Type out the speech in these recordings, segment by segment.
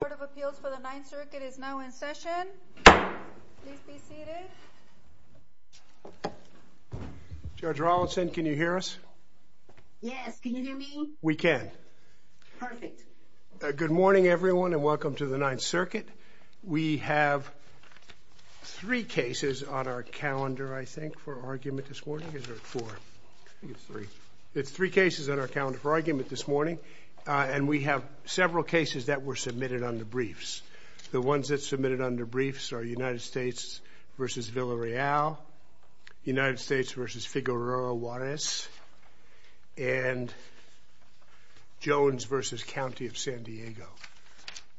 Court of Appeals for the Ninth Circuit is now in session. Please be seated. Judge Rawlinson, can you hear us? Yes, can you hear me? We can. Perfect. Good morning, everyone, and welcome to the Ninth Circuit. We have three cases on our calendar, I think, for argument this morning. Is there four? I think it's three. It's three cases on our calendar for argument this morning, and we have several cases that were submitted under briefs. The ones that submitted under briefs are United States v. Villareal, United States v. Figueroa Juarez, and Jones v. County of San Diego.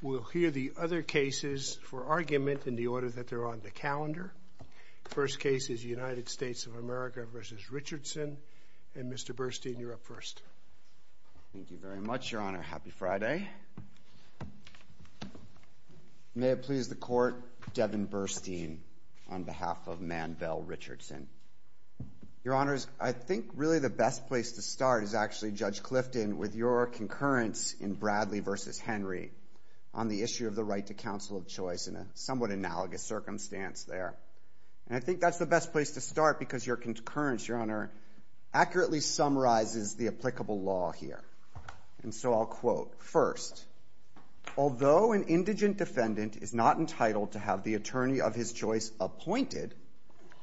We'll hear the other cases for argument in the order that they're on the calendar. The first case is United States of America v. Richardson. And, Mr. Burstein, you're up first. Thank you very much, Your Honor. Happy Friday. May it please the Court, Devin Burstein on behalf of Manvel Richardson. Your Honors, I think really the best place to start is actually, Judge Clifton, with your concurrence in Bradley v. Henry on the issue of the right to counsel of choice in a somewhat analogous circumstance there. And I think that's the best place to start because your concurrence, Your Honor, And so I'll quote. First, although an indigent defendant is not entitled to have the attorney of his choice appointed,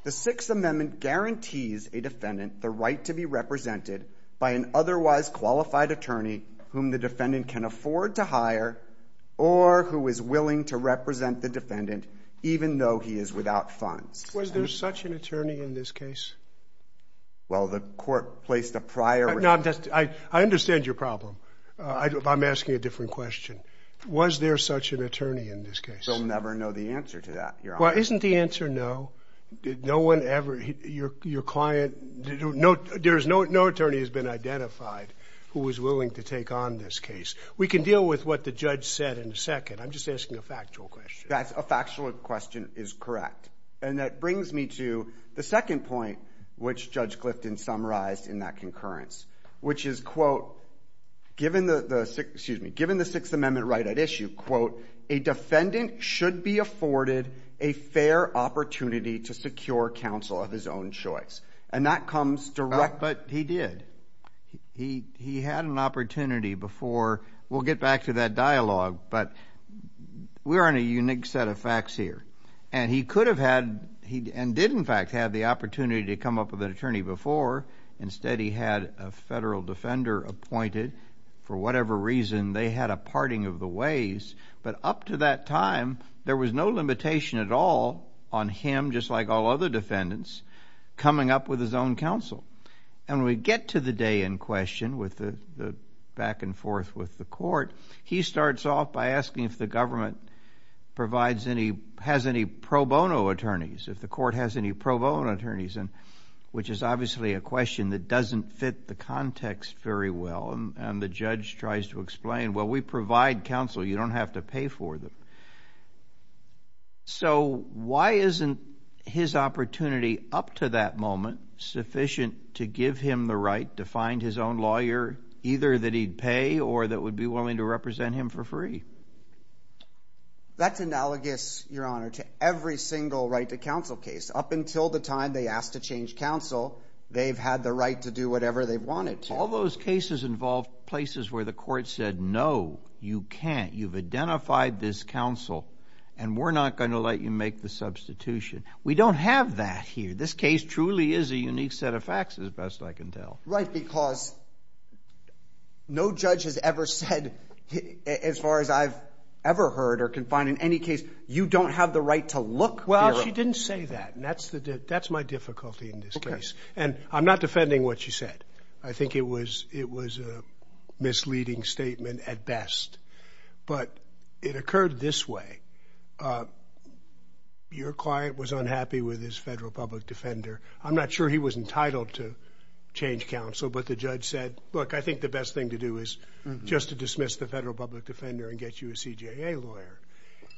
the Sixth Amendment guarantees a defendant the right to be represented by an otherwise qualified attorney whom the defendant can afford to hire or who is willing to represent the defendant even though he is without funds. Was there such an attorney in this case? Well, the Court placed a priori. No, I understand your problem. I'm asking a different question. Was there such an attorney in this case? We'll never know the answer to that, Your Honor. Well, isn't the answer no? No one ever, your client, no attorney has been identified who was willing to take on this case. We can deal with what the judge said in a second. I'm just asking a factual question. That's a factual question is correct. And that brings me to the second point which Judge Clifton summarized in that concurrence, which is, quote, given the Sixth Amendment right at issue, quote, a defendant should be afforded a fair opportunity to secure counsel of his own choice. And that comes direct. But he did. He had an opportunity before. We'll get back to that dialogue, but we're on a unique set of facts here. And he could have had and did, in fact, have the opportunity to come up with an attorney before. Instead, he had a federal defender appointed. For whatever reason, they had a parting of the ways. But up to that time, there was no limitation at all on him, just like all other defendants, coming up with his own counsel. And when we get to the day in question with the back and forth with the Court, he starts off by asking if the government has any pro bono attorneys, if the Court has any pro bono attorneys, which is obviously a question that doesn't fit the context very well. And the judge tries to explain, well, we provide counsel. You don't have to pay for them. So why isn't his opportunity up to that moment sufficient to give him the right to find his own lawyer, either that he'd pay or that would be willing to represent him for free? That's analogous, Your Honor, to every single right to counsel case. Up until the time they asked to change counsel, they've had the right to do whatever they wanted to. All those cases involved places where the Court said, no, you can't. You've identified this counsel, and we're not going to let you make the substitution. We don't have that here. This case truly is a unique set of facts, as best I can tell. Right, because no judge has ever said, as far as I've ever heard or can find in any case, you don't have the right to look. Well, she didn't say that, and that's my difficulty in this case. And I'm not defending what she said. I think it was a misleading statement at best. But it occurred this way. Your client was unhappy with his federal public defender. I'm not sure he was entitled to change counsel, but the judge said, look, I think the best thing to do is just to dismiss the federal public defender and get you a CJA lawyer.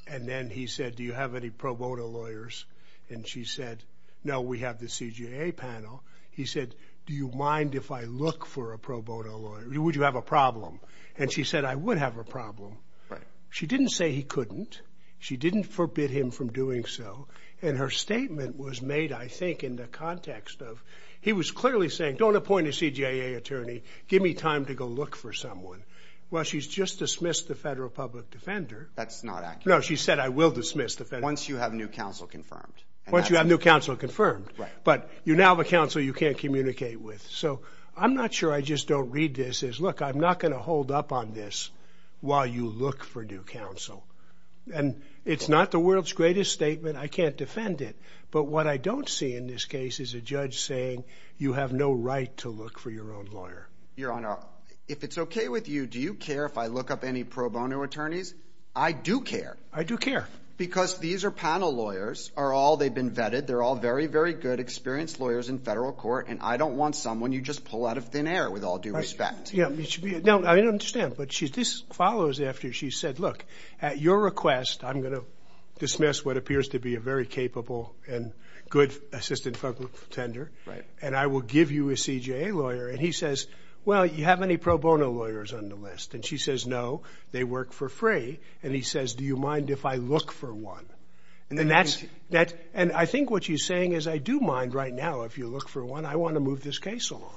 And then he said, do you have any pro bono lawyers? And she said, no, we have the CJA panel. He said, do you mind if I look for a pro bono lawyer? Would you have a problem? And she said, I would have a problem. She didn't say he couldn't. She didn't forbid him from doing so. And her statement was made, I think, in the context of he was clearly saying, don't appoint a CJA attorney, give me time to go look for someone. Well, she's just dismissed the federal public defender. That's not accurate. No, she said, I will dismiss the federal public defender. Once you have new counsel confirmed. Once you have new counsel confirmed. Right. But you now have a counsel you can't communicate with. So I'm not sure I just don't read this as, look, I'm not going to hold up on this while you look for new counsel. And it's not the world's greatest statement. I can't defend it. But what I don't see in this case is a judge saying, you have no right to look for your own lawyer. Your Honor, if it's okay with you, do you care if I look up any pro bono attorneys? I do care. I do care. Because these are panel lawyers. They've been vetted. They're all very, very good, experienced lawyers in federal court. And I don't want someone you just pull out of thin air with all due respect. I understand. But this follows after she said, look, at your request, I'm going to dismiss what appears to be a very capable and good assistant public defender. Right. And I will give you a CJA lawyer. And he says, well, you have any pro bono lawyers on the list? And she says, no, they work for free. And he says, do you mind if I look for one? And I think what she's saying is I do mind right now if you look for one. I want to move this case along.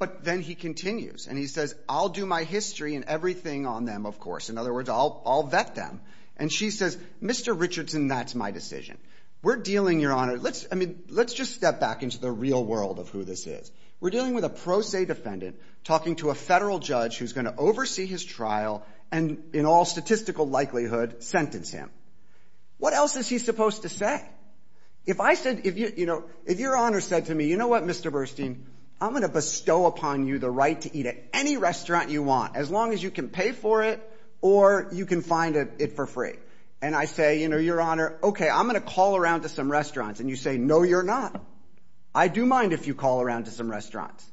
But then he continues. And he says, I'll do my history and everything on them, of course. In other words, I'll vet them. And she says, Mr. Richardson, that's my decision. We're dealing, Your Honor, let's just step back into the real world of who this is. We're dealing with a pro se defendant talking to a federal judge who's going to oversee his trial and in all statistical likelihood sentence him. What else is he supposed to say? If your Honor said to me, you know what, Mr. Burstein, I'm going to bestow upon you the right to eat at any restaurant you want as long as you can pay for it or you can find it for free. And I say, Your Honor, okay, I'm going to call around to some restaurants. And you say, no, you're not. I do mind if you call around to some restaurants.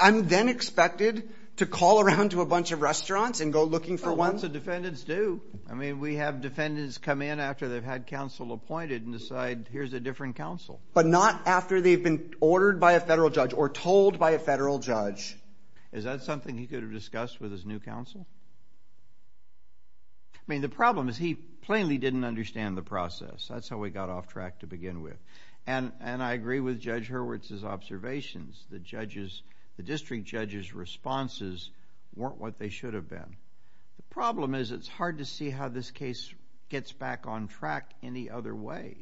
I'm then expected to call around to a bunch of restaurants and go looking for one? Well, lots of defendants do. I mean, we have defendants come in after they've had counsel appointed and decide here's a different counsel. But not after they've been ordered by a federal judge or told by a federal judge. Is that something he could have discussed with his new counsel? I mean, the problem is he plainly didn't understand the process. That's how he got off track to begin with. And I agree with Judge Hurwitz's observations. The district judge's responses weren't what they should have been. The problem is it's hard to see how this case gets back on track any other way.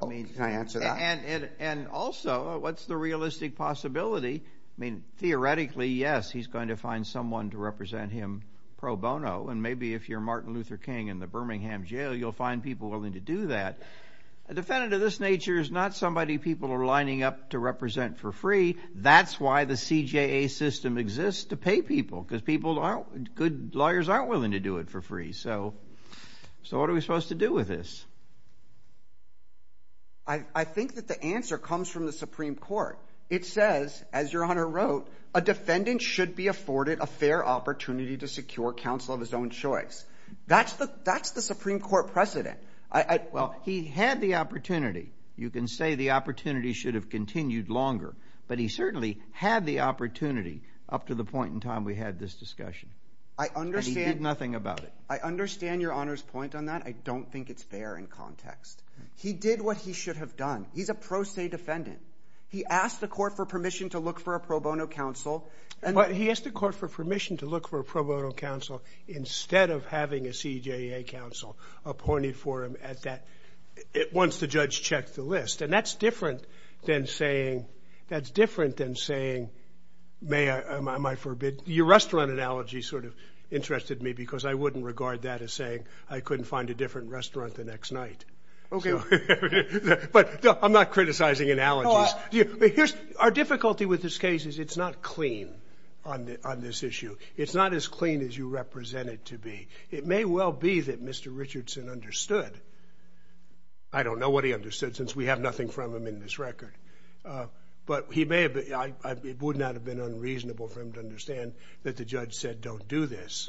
Can I answer that? And also, what's the realistic possibility? I mean, theoretically, yes, he's going to find someone to represent him pro bono. And maybe if you're Martin Luther King in the Birmingham jail, you'll find people willing to do that. A defendant of this nature is not somebody people are lining up to represent for free. That's why the CJA system exists to pay people because good lawyers aren't willing to do it for free. So what are we supposed to do with this? I think that the answer comes from the Supreme Court. It says, as Your Honor wrote, a defendant should be afforded a fair opportunity to secure counsel of his own choice. That's the Supreme Court precedent. Well, he had the opportunity. You can say the opportunity should have continued longer. But he certainly had the opportunity up to the point in time we had this discussion. And he did nothing about it. I understand Your Honor's point on that. I don't think it's fair in context. He did what he should have done. He's a pro se defendant. He asked the court for permission to look for a pro bono counsel. But he asked the court for permission to look for a pro bono counsel instead of having a CJA counsel appointed for him once the judge checked the list. And that's different than saying, may I, am I forbid, your restaurant analogy sort of interested me because I wouldn't regard that as saying I couldn't find a different restaurant the next night. But I'm not criticizing analogies. Our difficulty with this case is it's not clean on this issue. It's not as clean as you represent it to be. It may well be that Mr. Richardson understood. I don't know what he understood since we have nothing from him in this record. But he may have, it would not have been unreasonable for him to understand that the judge said don't do this.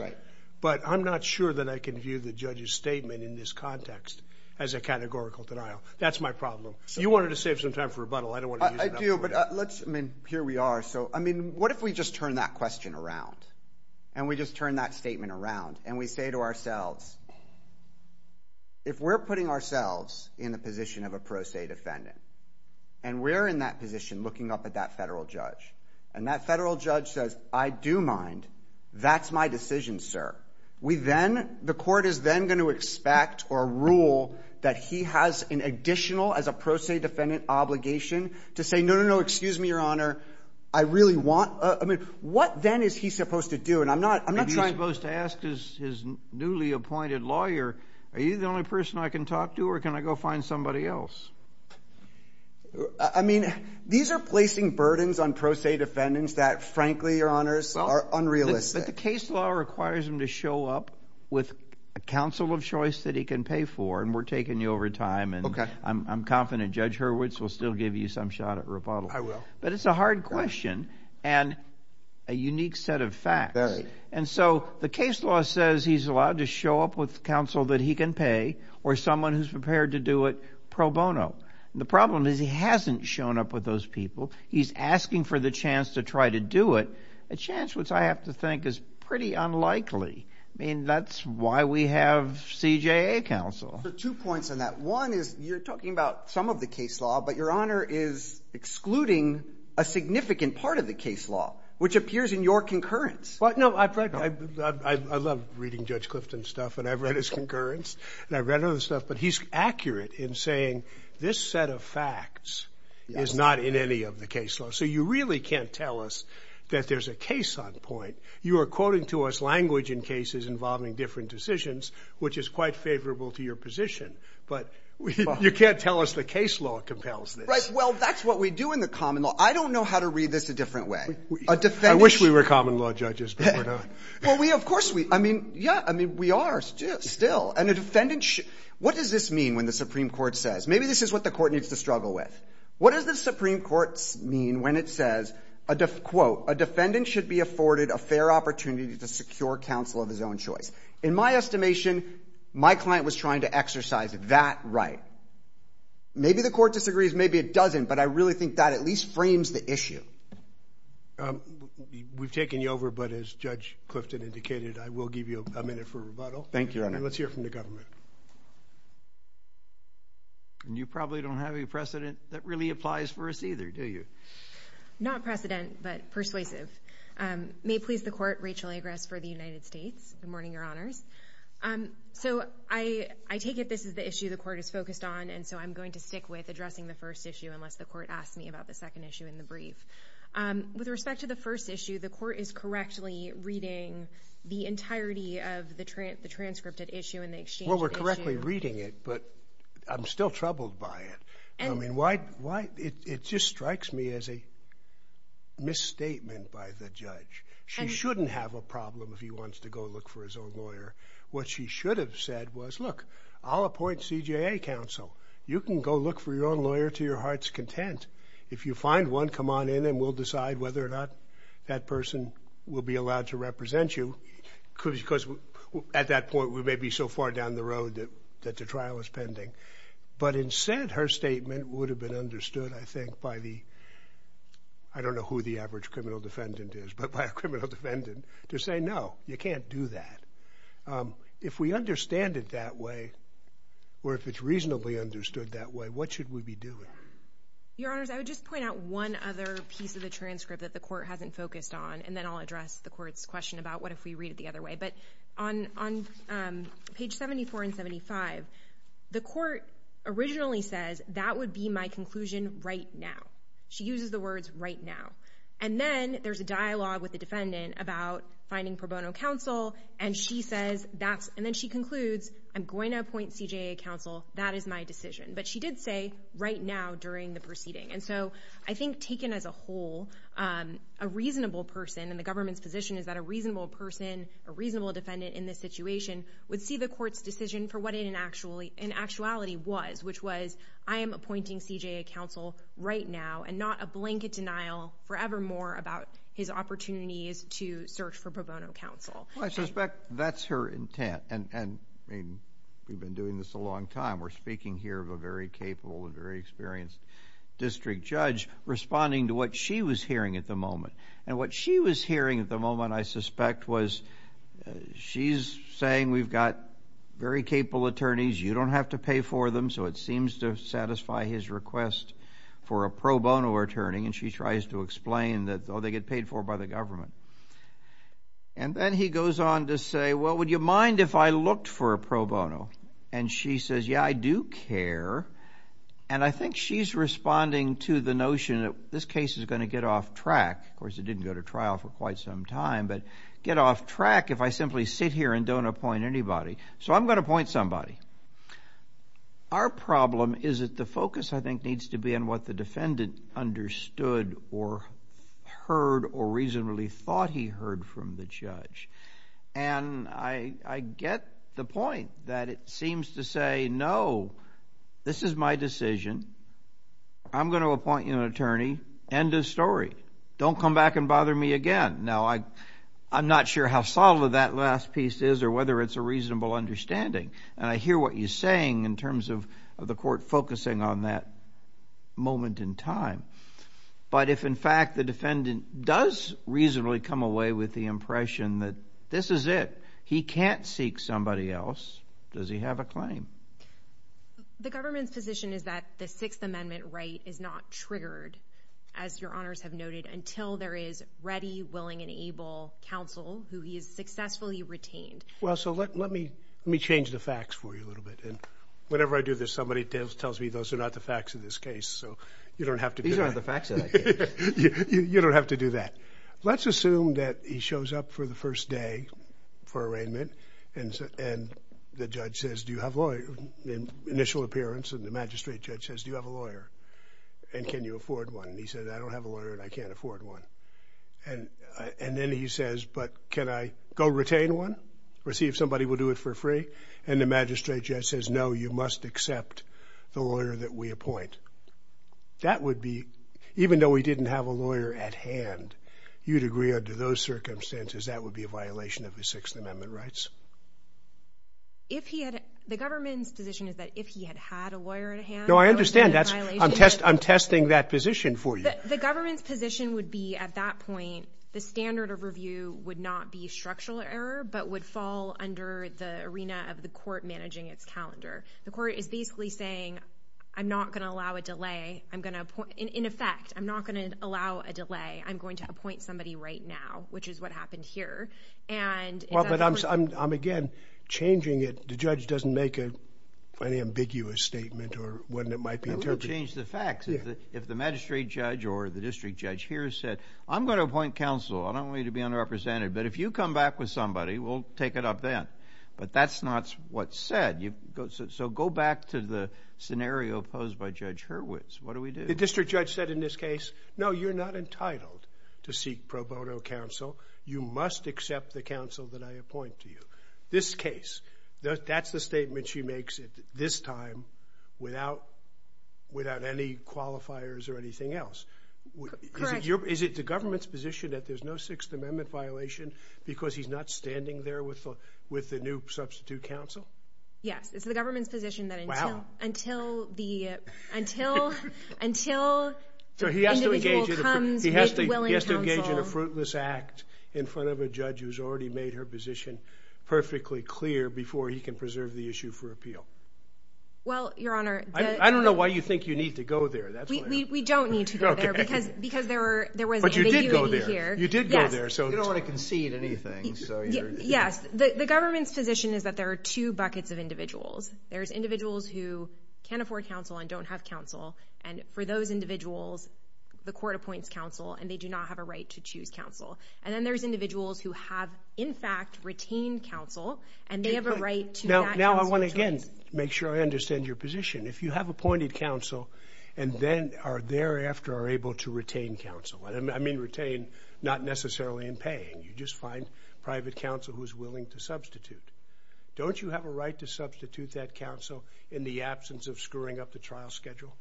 But I'm not sure that I can view the judge's statement in this context as a categorical denial. That's my problem. You wanted to save some time for rebuttal. I don't want to use it up. I do, but let's, I mean, here we are. So, I mean, what if we just turn that question around and we just turn that statement around and we say to ourselves, if we're putting ourselves in the position of a pro se defendant and we're in that position looking up at that federal judge and that federal judge says I do mind, that's my decision, sir. We then, the court is then going to expect or rule that he has an additional as a pro se defendant obligation to say no, no, no, excuse me, Your Honor. I really want, I mean, what then is he supposed to do? If he's supposed to ask his newly appointed lawyer, are you the only person I can talk to or can I go find somebody else? I mean, these are placing burdens on pro se defendants that, frankly, Your Honor, are unrealistic. But the case law requires him to show up with a counsel of choice that he can pay for and we're taking you over time and I'm confident Judge Hurwitz will still give you some shot at rebuttal. I will. But it's a hard question and a unique set of facts. And so the case law says he's allowed to show up with counsel that he can pay or someone who's prepared to do it pro bono. The problem is he hasn't shown up with those people. He's asking for the chance to try to do it, a chance which I have to think is pretty unlikely. I mean, that's why we have CJA counsel. Two points on that. One is you're talking about some of the case law, but Your Honor is excluding a significant part of the case law, which appears in your concurrence. I love reading Judge Clifton's stuff and I've read his concurrence and I've read other stuff, but he's accurate in saying this set of facts is not in any of the case law. So you really can't tell us that there's a case on point. You are quoting to us language in cases involving different decisions, which is quite favorable to your position, but you can't tell us the case law compels this. Right. Well, that's what we do in the common law. I don't know how to read this a different way. I wish we were common law judges, but we're not. Well, we of course we, I mean, yeah, I mean, we are still. And a defendant should, what does this mean when the Supreme Court says, maybe this is what the court needs to struggle with. What does the Supreme Court mean when it says, quote, a defendant should be afforded a fair opportunity to secure counsel of his own choice? In my estimation, my client was trying to exercise that right. Maybe the court disagrees. Maybe it doesn't. But I really think that at least frames the issue. We've taken you over, but as Judge Clifton indicated, I will give you a minute for rebuttal. Thank you, Your Honor. Let's hear from the government. You probably don't have any precedent that really applies for us either, do you? Not precedent, but persuasive. May it please the court, Rachel Agress for the United States. Good morning, Your Honors. So I take it this is the issue the court is focused on, and so I'm going to stick with addressing the first issue, unless the court asks me about the second issue in the brief. With respect to the first issue, the court is correctly reading the entirety of the transcripted issue and the exchange of the issue. Well, we're correctly reading it, but I'm still troubled by it. It just strikes me as a misstatement by the judge. She shouldn't have a problem if he wants to go look for his own lawyer. What she should have said was, look, I'll appoint CJA counsel. You can go look for your own lawyer to your heart's content. If you find one, come on in, and we'll decide whether or not that person will be allowed to represent you because at that point we may be so far down the road that the trial is pending. But instead, her statement would have been understood, I think, by the, I don't know who the average criminal defendant is, but by a criminal defendant, to say, no, you can't do that. If we understand it that way or if it's reasonably understood that way, what should we be doing? Your Honors, I would just point out one other piece of the transcript that the court hasn't focused on, and then I'll address the court's question about what if we read it the other way. But on page 74 and 75, the court originally says, that would be my conclusion right now. She uses the words right now. And then there's a dialogue with the defendant about finding pro bono counsel, and then she concludes, I'm going to appoint CJA counsel. That is my decision. But she did say right now during the proceeding. And so I think taken as a whole, a reasonable person, and the government's position is that a reasonable person, a reasonable defendant in this situation, would see the court's decision for what it in actuality was, which was I am appointing CJA counsel right now and not a blanket denial forevermore about his opportunities to search for pro bono counsel. Well, I suspect that's her intent. And, I mean, we've been doing this a long time. We're speaking here of a very capable and very experienced district judge responding to what she was hearing at the moment. And what she was hearing at the moment, I suspect, was she's saying we've got very capable attorneys. You don't have to pay for them. So it seems to satisfy his request for a pro bono attorney. And she tries to explain that, oh, they get paid for by the government. And then he goes on to say, well, would you mind if I looked for a pro bono? And she says, yeah, I do care. And I think she's responding to the notion that this case is going to get off track. Of course, it didn't go to trial for quite some time, but get off track if I simply sit here and don't appoint anybody. So I'm going to appoint somebody. Our problem is that the focus, I think, needs to be on what the defendant understood or heard or reasonably thought he heard from the judge. And I get the point that it seems to say, no, this is my decision. I'm going to appoint you an attorney. End of story. Don't come back and bother me again. Now, I'm not sure how solid that last piece is or whether it's a reasonable understanding. And I hear what you're saying in terms of the court focusing on that moment in time. But if, in fact, the defendant does reasonably come away with the impression that this is it, he can't seek somebody else, does he have a claim? The government's position is that the Sixth Amendment right is not triggered, as your honors have noted, until there is ready, willing, and able counsel who he has successfully retained. Well, so let me change the facts for you a little bit. And whenever I do this, somebody tells me those are not the facts of this case. So you don't have to do that. These aren't the facts of that case. You don't have to do that. Let's assume that he shows up for the first day for arraignment, and the judge says, do you have a lawyer, initial appearance, and the magistrate judge says, do you have a lawyer, and can you afford one? And he says, I don't have a lawyer and I can't afford one. And then he says, but can I go retain one or see if somebody will do it for free? And the magistrate judge says, no, you must accept the lawyer that we appoint. That would be, even though he didn't have a lawyer at hand, you'd agree under those circumstances, that would be a violation of the Sixth Amendment rights. The government's position is that if he had had a lawyer at hand, that would be a violation. No, I understand. I'm testing that position for you. The government's position would be at that point, the standard of review would not be structural error, but would fall under the arena of the court managing its calendar. The court is basically saying, I'm not going to allow a delay. In effect, I'm not going to allow a delay. I'm going to appoint somebody right now, which is what happened here. Well, but I'm, again, changing it. The judge doesn't make an ambiguous statement or what it might be interpreted as. It would change the facts. If the magistrate judge or the district judge here said, I'm going to appoint counsel. I don't want you to be underrepresented. But if you come back with somebody, we'll take it up then. But that's not what's said. So go back to the scenario posed by Judge Hurwitz. What do we do? The district judge said in this case, no, you're not entitled to seek pro bono counsel. You must accept the counsel that I appoint to you. This case, that's the statement she makes this time without any qualifiers or anything else. Correct. Is it the government's position that there's no Sixth Amendment violation because he's not standing there with the new substitute counsel? Yes. It's the government's position that until the individual comes with willing counsel. He has to engage in a fruitless act in front of a judge who's already made her position perfectly clear before he can preserve the issue for appeal. Well, Your Honor. I don't know why you think you need to go there. We don't need to go there. Because there was ambiguity here. But you did go there. You did go there. You don't want to concede anything. Yes. The government's position is that there are two buckets of individuals. There's individuals who can't afford counsel and don't have counsel. And for those individuals, the court appoints counsel, and they do not have a right to choose counsel. And then there's individuals who have, in fact, retained counsel, and they have a right to that counsel as well. Now I want to, again, make sure I understand your position. If you have appointed counsel and then thereafter are able to retain counsel, and I mean retain, not necessarily in pay. You just find private counsel who's willing to substitute. Don't you have a right to substitute that counsel in the absence of screwing up the trial schedule?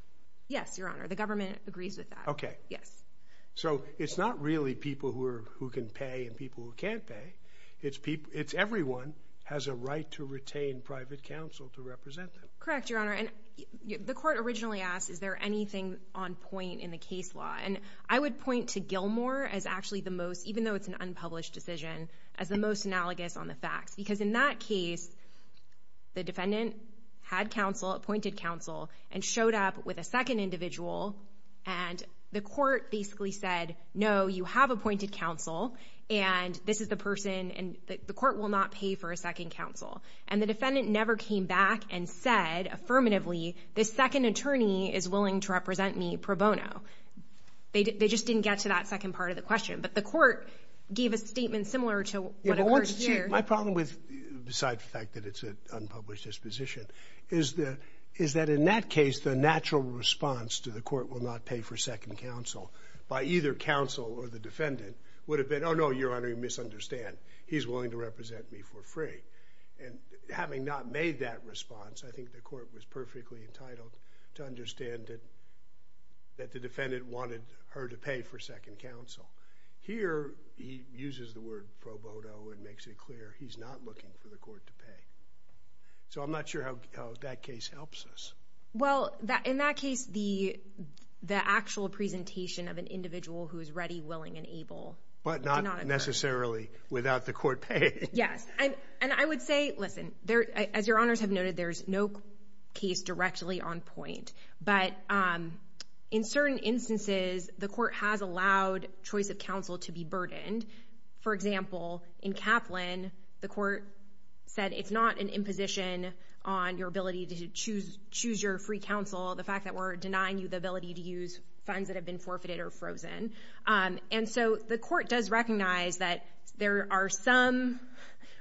Yes, Your Honor. The government agrees with that. Okay. Yes. So it's not really people who can pay and people who can't pay. It's everyone has a right to retain private counsel to represent them. Correct, Your Honor. And the court originally asked, is there anything on point in the case law? And I would point to Gilmore as actually the most, even though it's an unpublished decision, as the most analogous on the facts. Because in that case, the defendant had counsel, appointed counsel, and showed up with a second individual, and the court basically said, no, you have appointed counsel, and this is the person, and the court will not pay for a second counsel. And the defendant never came back and said affirmatively, this second attorney is willing to represent me pro bono. They just didn't get to that second part of the question. But the court gave a statement similar to what occurs here. My problem with, besides the fact that it's an unpublished disposition, is that in that case the natural response to the court will not pay for second counsel by either counsel or the defendant would have been, oh, no, Your Honor, you misunderstand. He's willing to represent me for free. And having not made that response, I think the court was perfectly entitled to understand that the defendant wanted her to pay for second counsel. Here he uses the word pro bono and makes it clear he's not looking for the court to pay. So I'm not sure how that case helps us. Well, in that case, the actual presentation of an individual who is ready, willing, and able. But not necessarily without the court paying. Yes. And I would say, listen, as Your Honors have noted, there's no case directly on point. But in certain instances, the court has allowed choice of counsel to be burdened. For example, in Kaplan, the court said it's not an imposition on your ability to choose your free counsel, the fact that we're denying you the ability to use funds that have been forfeited or frozen. And so the court does recognize that there are some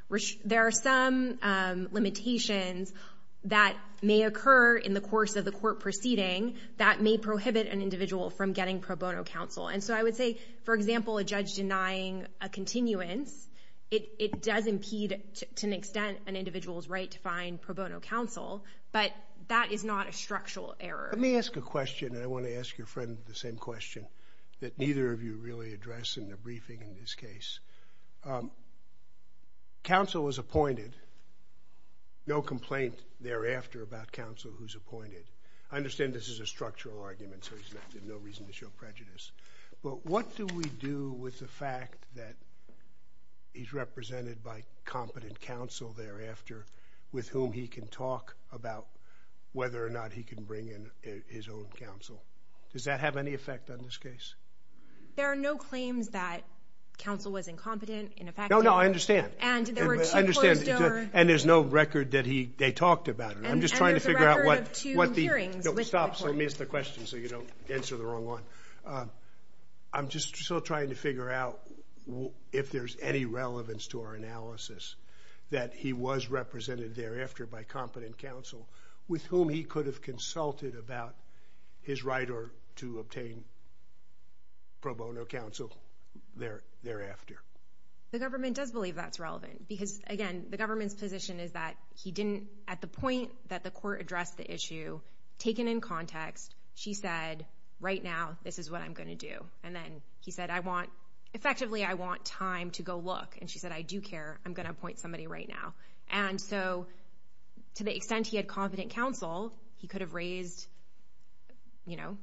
limitations that may occur in the course of the court proceeding that may prohibit an individual from getting pro bono counsel. And so I would say, for example, a judge denying a continuance, it does impede to an extent an individual's right to find pro bono counsel. But that is not a structural error. Let me ask a question, and I want to ask your friend the same question that neither of you really address in the briefing in this case. Counsel is appointed. No complaint thereafter about counsel who's appointed. I understand this is a structural argument, so there's no reason to show prejudice. But what do we do with the fact that he's represented by competent counsel thereafter with whom he can talk about whether or not he can bring in his own counsel? Does that have any effect on this case? There are no claims that counsel was incompetent in effect. No, no, I understand. And there's no record that they talked about it. And there's a record of two hearings with the court. Stop, so let me ask the question so you don't answer the wrong one. I'm just still trying to figure out if there's any relevance to our analysis that he was represented thereafter by competent counsel with whom he could have consulted about his right to obtain pro bono counsel thereafter. The government does believe that's relevant because, again, the government's position is that he didn't, at the point that the court addressed the issue, taken in context, she said, right now, this is what I'm going to do. And then he said, effectively, I want time to go look. And she said, I do care. I'm going to appoint somebody right now. And so to the extent he had competent counsel, he could have raised, you know,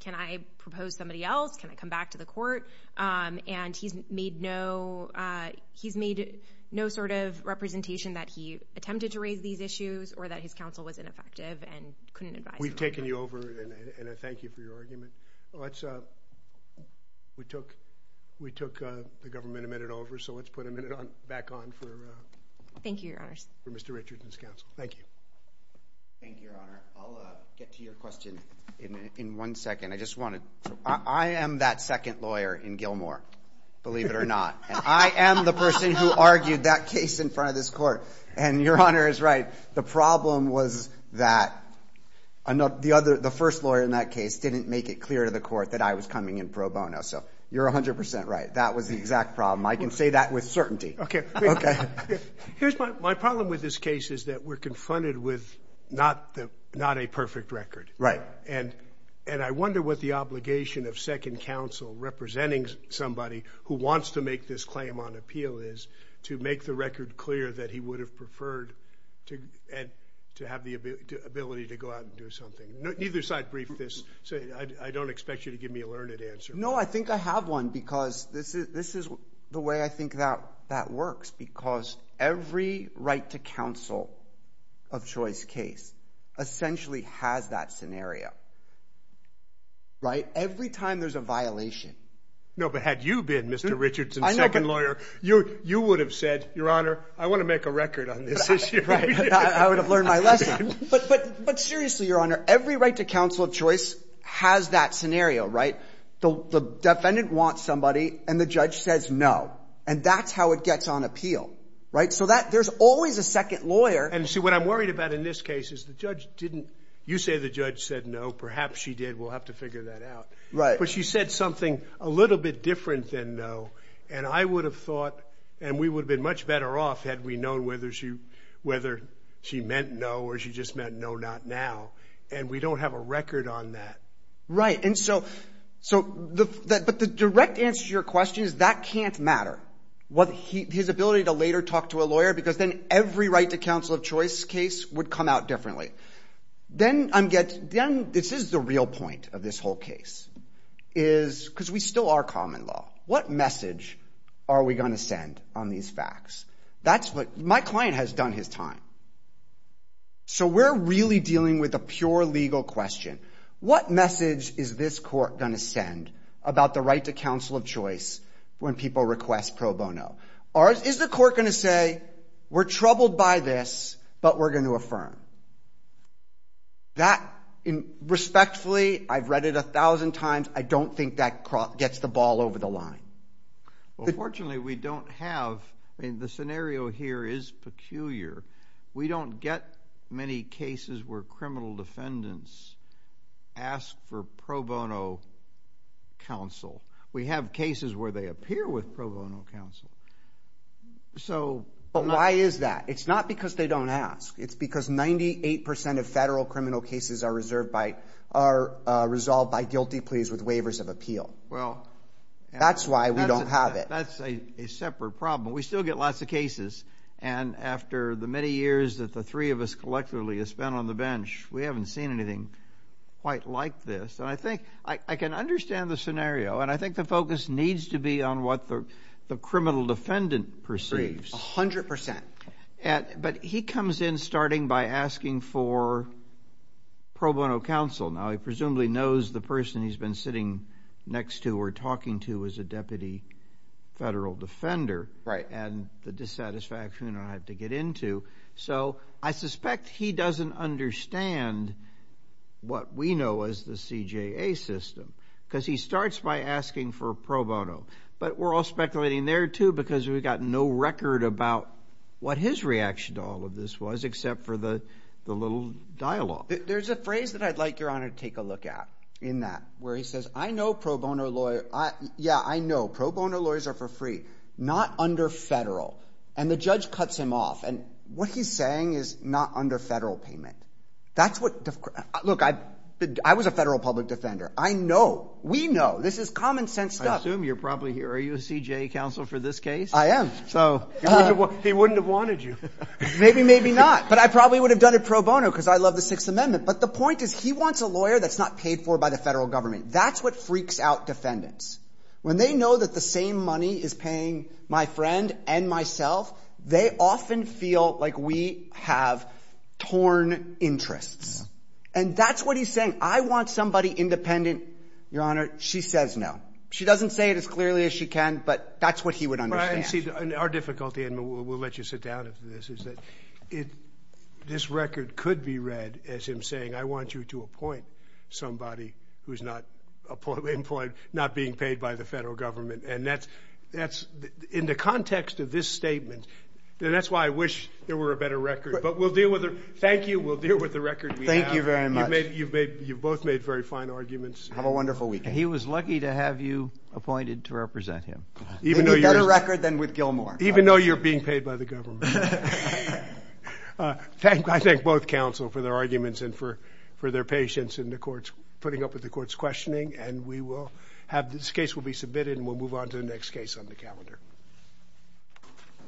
can I propose somebody else? Can I come back to the court? And he's made no sort of representation that he attempted to raise these issues or that his counsel was ineffective and couldn't advise. We've taken you over, and I thank you for your argument. We took the government a minute over, so let's put a minute back on for Mr. Richardson's counsel. Thank you. Thank you, Your Honor. I'll get to your question in one second. I am that second lawyer in Gilmore, believe it or not. And I am the person who argued that case in front of this court. And Your Honor is right. The problem was that the first lawyer in that case didn't make it clear to the court that I was coming in pro bono. So you're 100% right. That was the exact problem. I can say that with certainty. Okay. Here's my problem with this case is that we're confronted with not a perfect record. Right. And I wonder what the obligation of second counsel representing somebody who wants to make this claim on appeal is to make the record clear that he would have preferred to have the ability to go out and do something. Neither side briefed this, so I don't expect you to give me a learned answer. No, I think I have one because this is the way I think that works, because every right to counsel of choice case essentially has that scenario. Right? Every time there's a violation. No, but had you been Mr. Richardson's second lawyer, you would have said, Your Honor, I want to make a record on this issue. I would have learned my lesson. But seriously, Your Honor, every right to counsel of choice has that scenario. Right? The defendant wants somebody and the judge says no. And that's how it gets on appeal. Right? So there's always a second lawyer. And see, what I'm worried about in this case is the judge didn't. You say the judge said no. Perhaps she did. We'll have to figure that out. Right. But she said something a little bit different than no. And I would have thought, and we would have been much better off had we known whether she meant no or she just meant no, not now. And we don't have a record on that. Right. But the direct answer to your question is that can't matter. His ability to later talk to a lawyer, because then every right to counsel of choice case would come out differently. Then this is the real point of this whole case. Because we still are common law. What message are we going to send on these facts? My client has done his time. So we're really dealing with a pure legal question. What message is this court going to send about the right to counsel of choice when people request pro bono? Is the court going to say, we're troubled by this, but we're going to affirm? That, respectfully, I've read it a thousand times. I don't think that gets the ball over the line. Well, fortunately, we don't have the scenario here is peculiar. We don't get many cases where criminal defendants ask for pro bono counsel. We have cases where they appear with pro bono counsel. But why is that? It's not because they don't ask. It's because 98% of federal criminal cases are resolved by guilty pleas with waivers of appeal. That's why we don't have it. That's a separate problem. We still get lots of cases. And after the many years that the three of us collectively have spent on the bench, we haven't seen anything quite like this. And I think I can understand the scenario, and I think the focus needs to be on what the criminal defendant perceives. A hundred percent. But he comes in starting by asking for pro bono counsel. Now, he presumably knows the person he's been sitting next to or talking to is a deputy federal defender. Right. And the dissatisfaction I have to get into. So I suspect he doesn't understand what we know as the CJA system, because he starts by asking for pro bono. But we're all speculating there, too, because we've got no record about what his reaction to all of this was, except for the little dialogue. There's a phrase that I'd like Your Honor to take a look at in that, where he says, I know pro bono lawyers are for free, not under federal. And the judge cuts him off. And what he's saying is not under federal payment. That's what – look, I was a federal public defender. I know. We know. This is common sense stuff. I assume you're probably – are you a CJA counsel for this case? I am. So. He wouldn't have wanted you. Maybe, maybe not. But I probably would have done it pro bono because I love the Sixth Amendment. But the point is he wants a lawyer that's not paid for by the federal government. That's what freaks out defendants. When they know that the same money is paying my friend and myself, they often feel like we have torn interests. And that's what he's saying. I want somebody independent. Your Honor, she says no. She doesn't say it as clearly as she can, but that's what he would understand. Our difficulty – and we'll let you sit down after this – is that this record could be read as him saying, I want you to appoint somebody who's not being paid by the federal government. And that's – in the context of this statement – and that's why I wish there were a better record. But we'll deal with it. Thank you. We'll deal with the record we have. Thank you very much. You've both made very fine arguments. Have a wonderful weekend. He was lucky to have you appointed to represent him. A better record than with Gilmore. Even though you're being paid by the government. I thank both counsel for their arguments and for their patience in the courts, putting up with the court's questioning. And we will have – this case will be submitted and we'll move on to the next case on the calendar.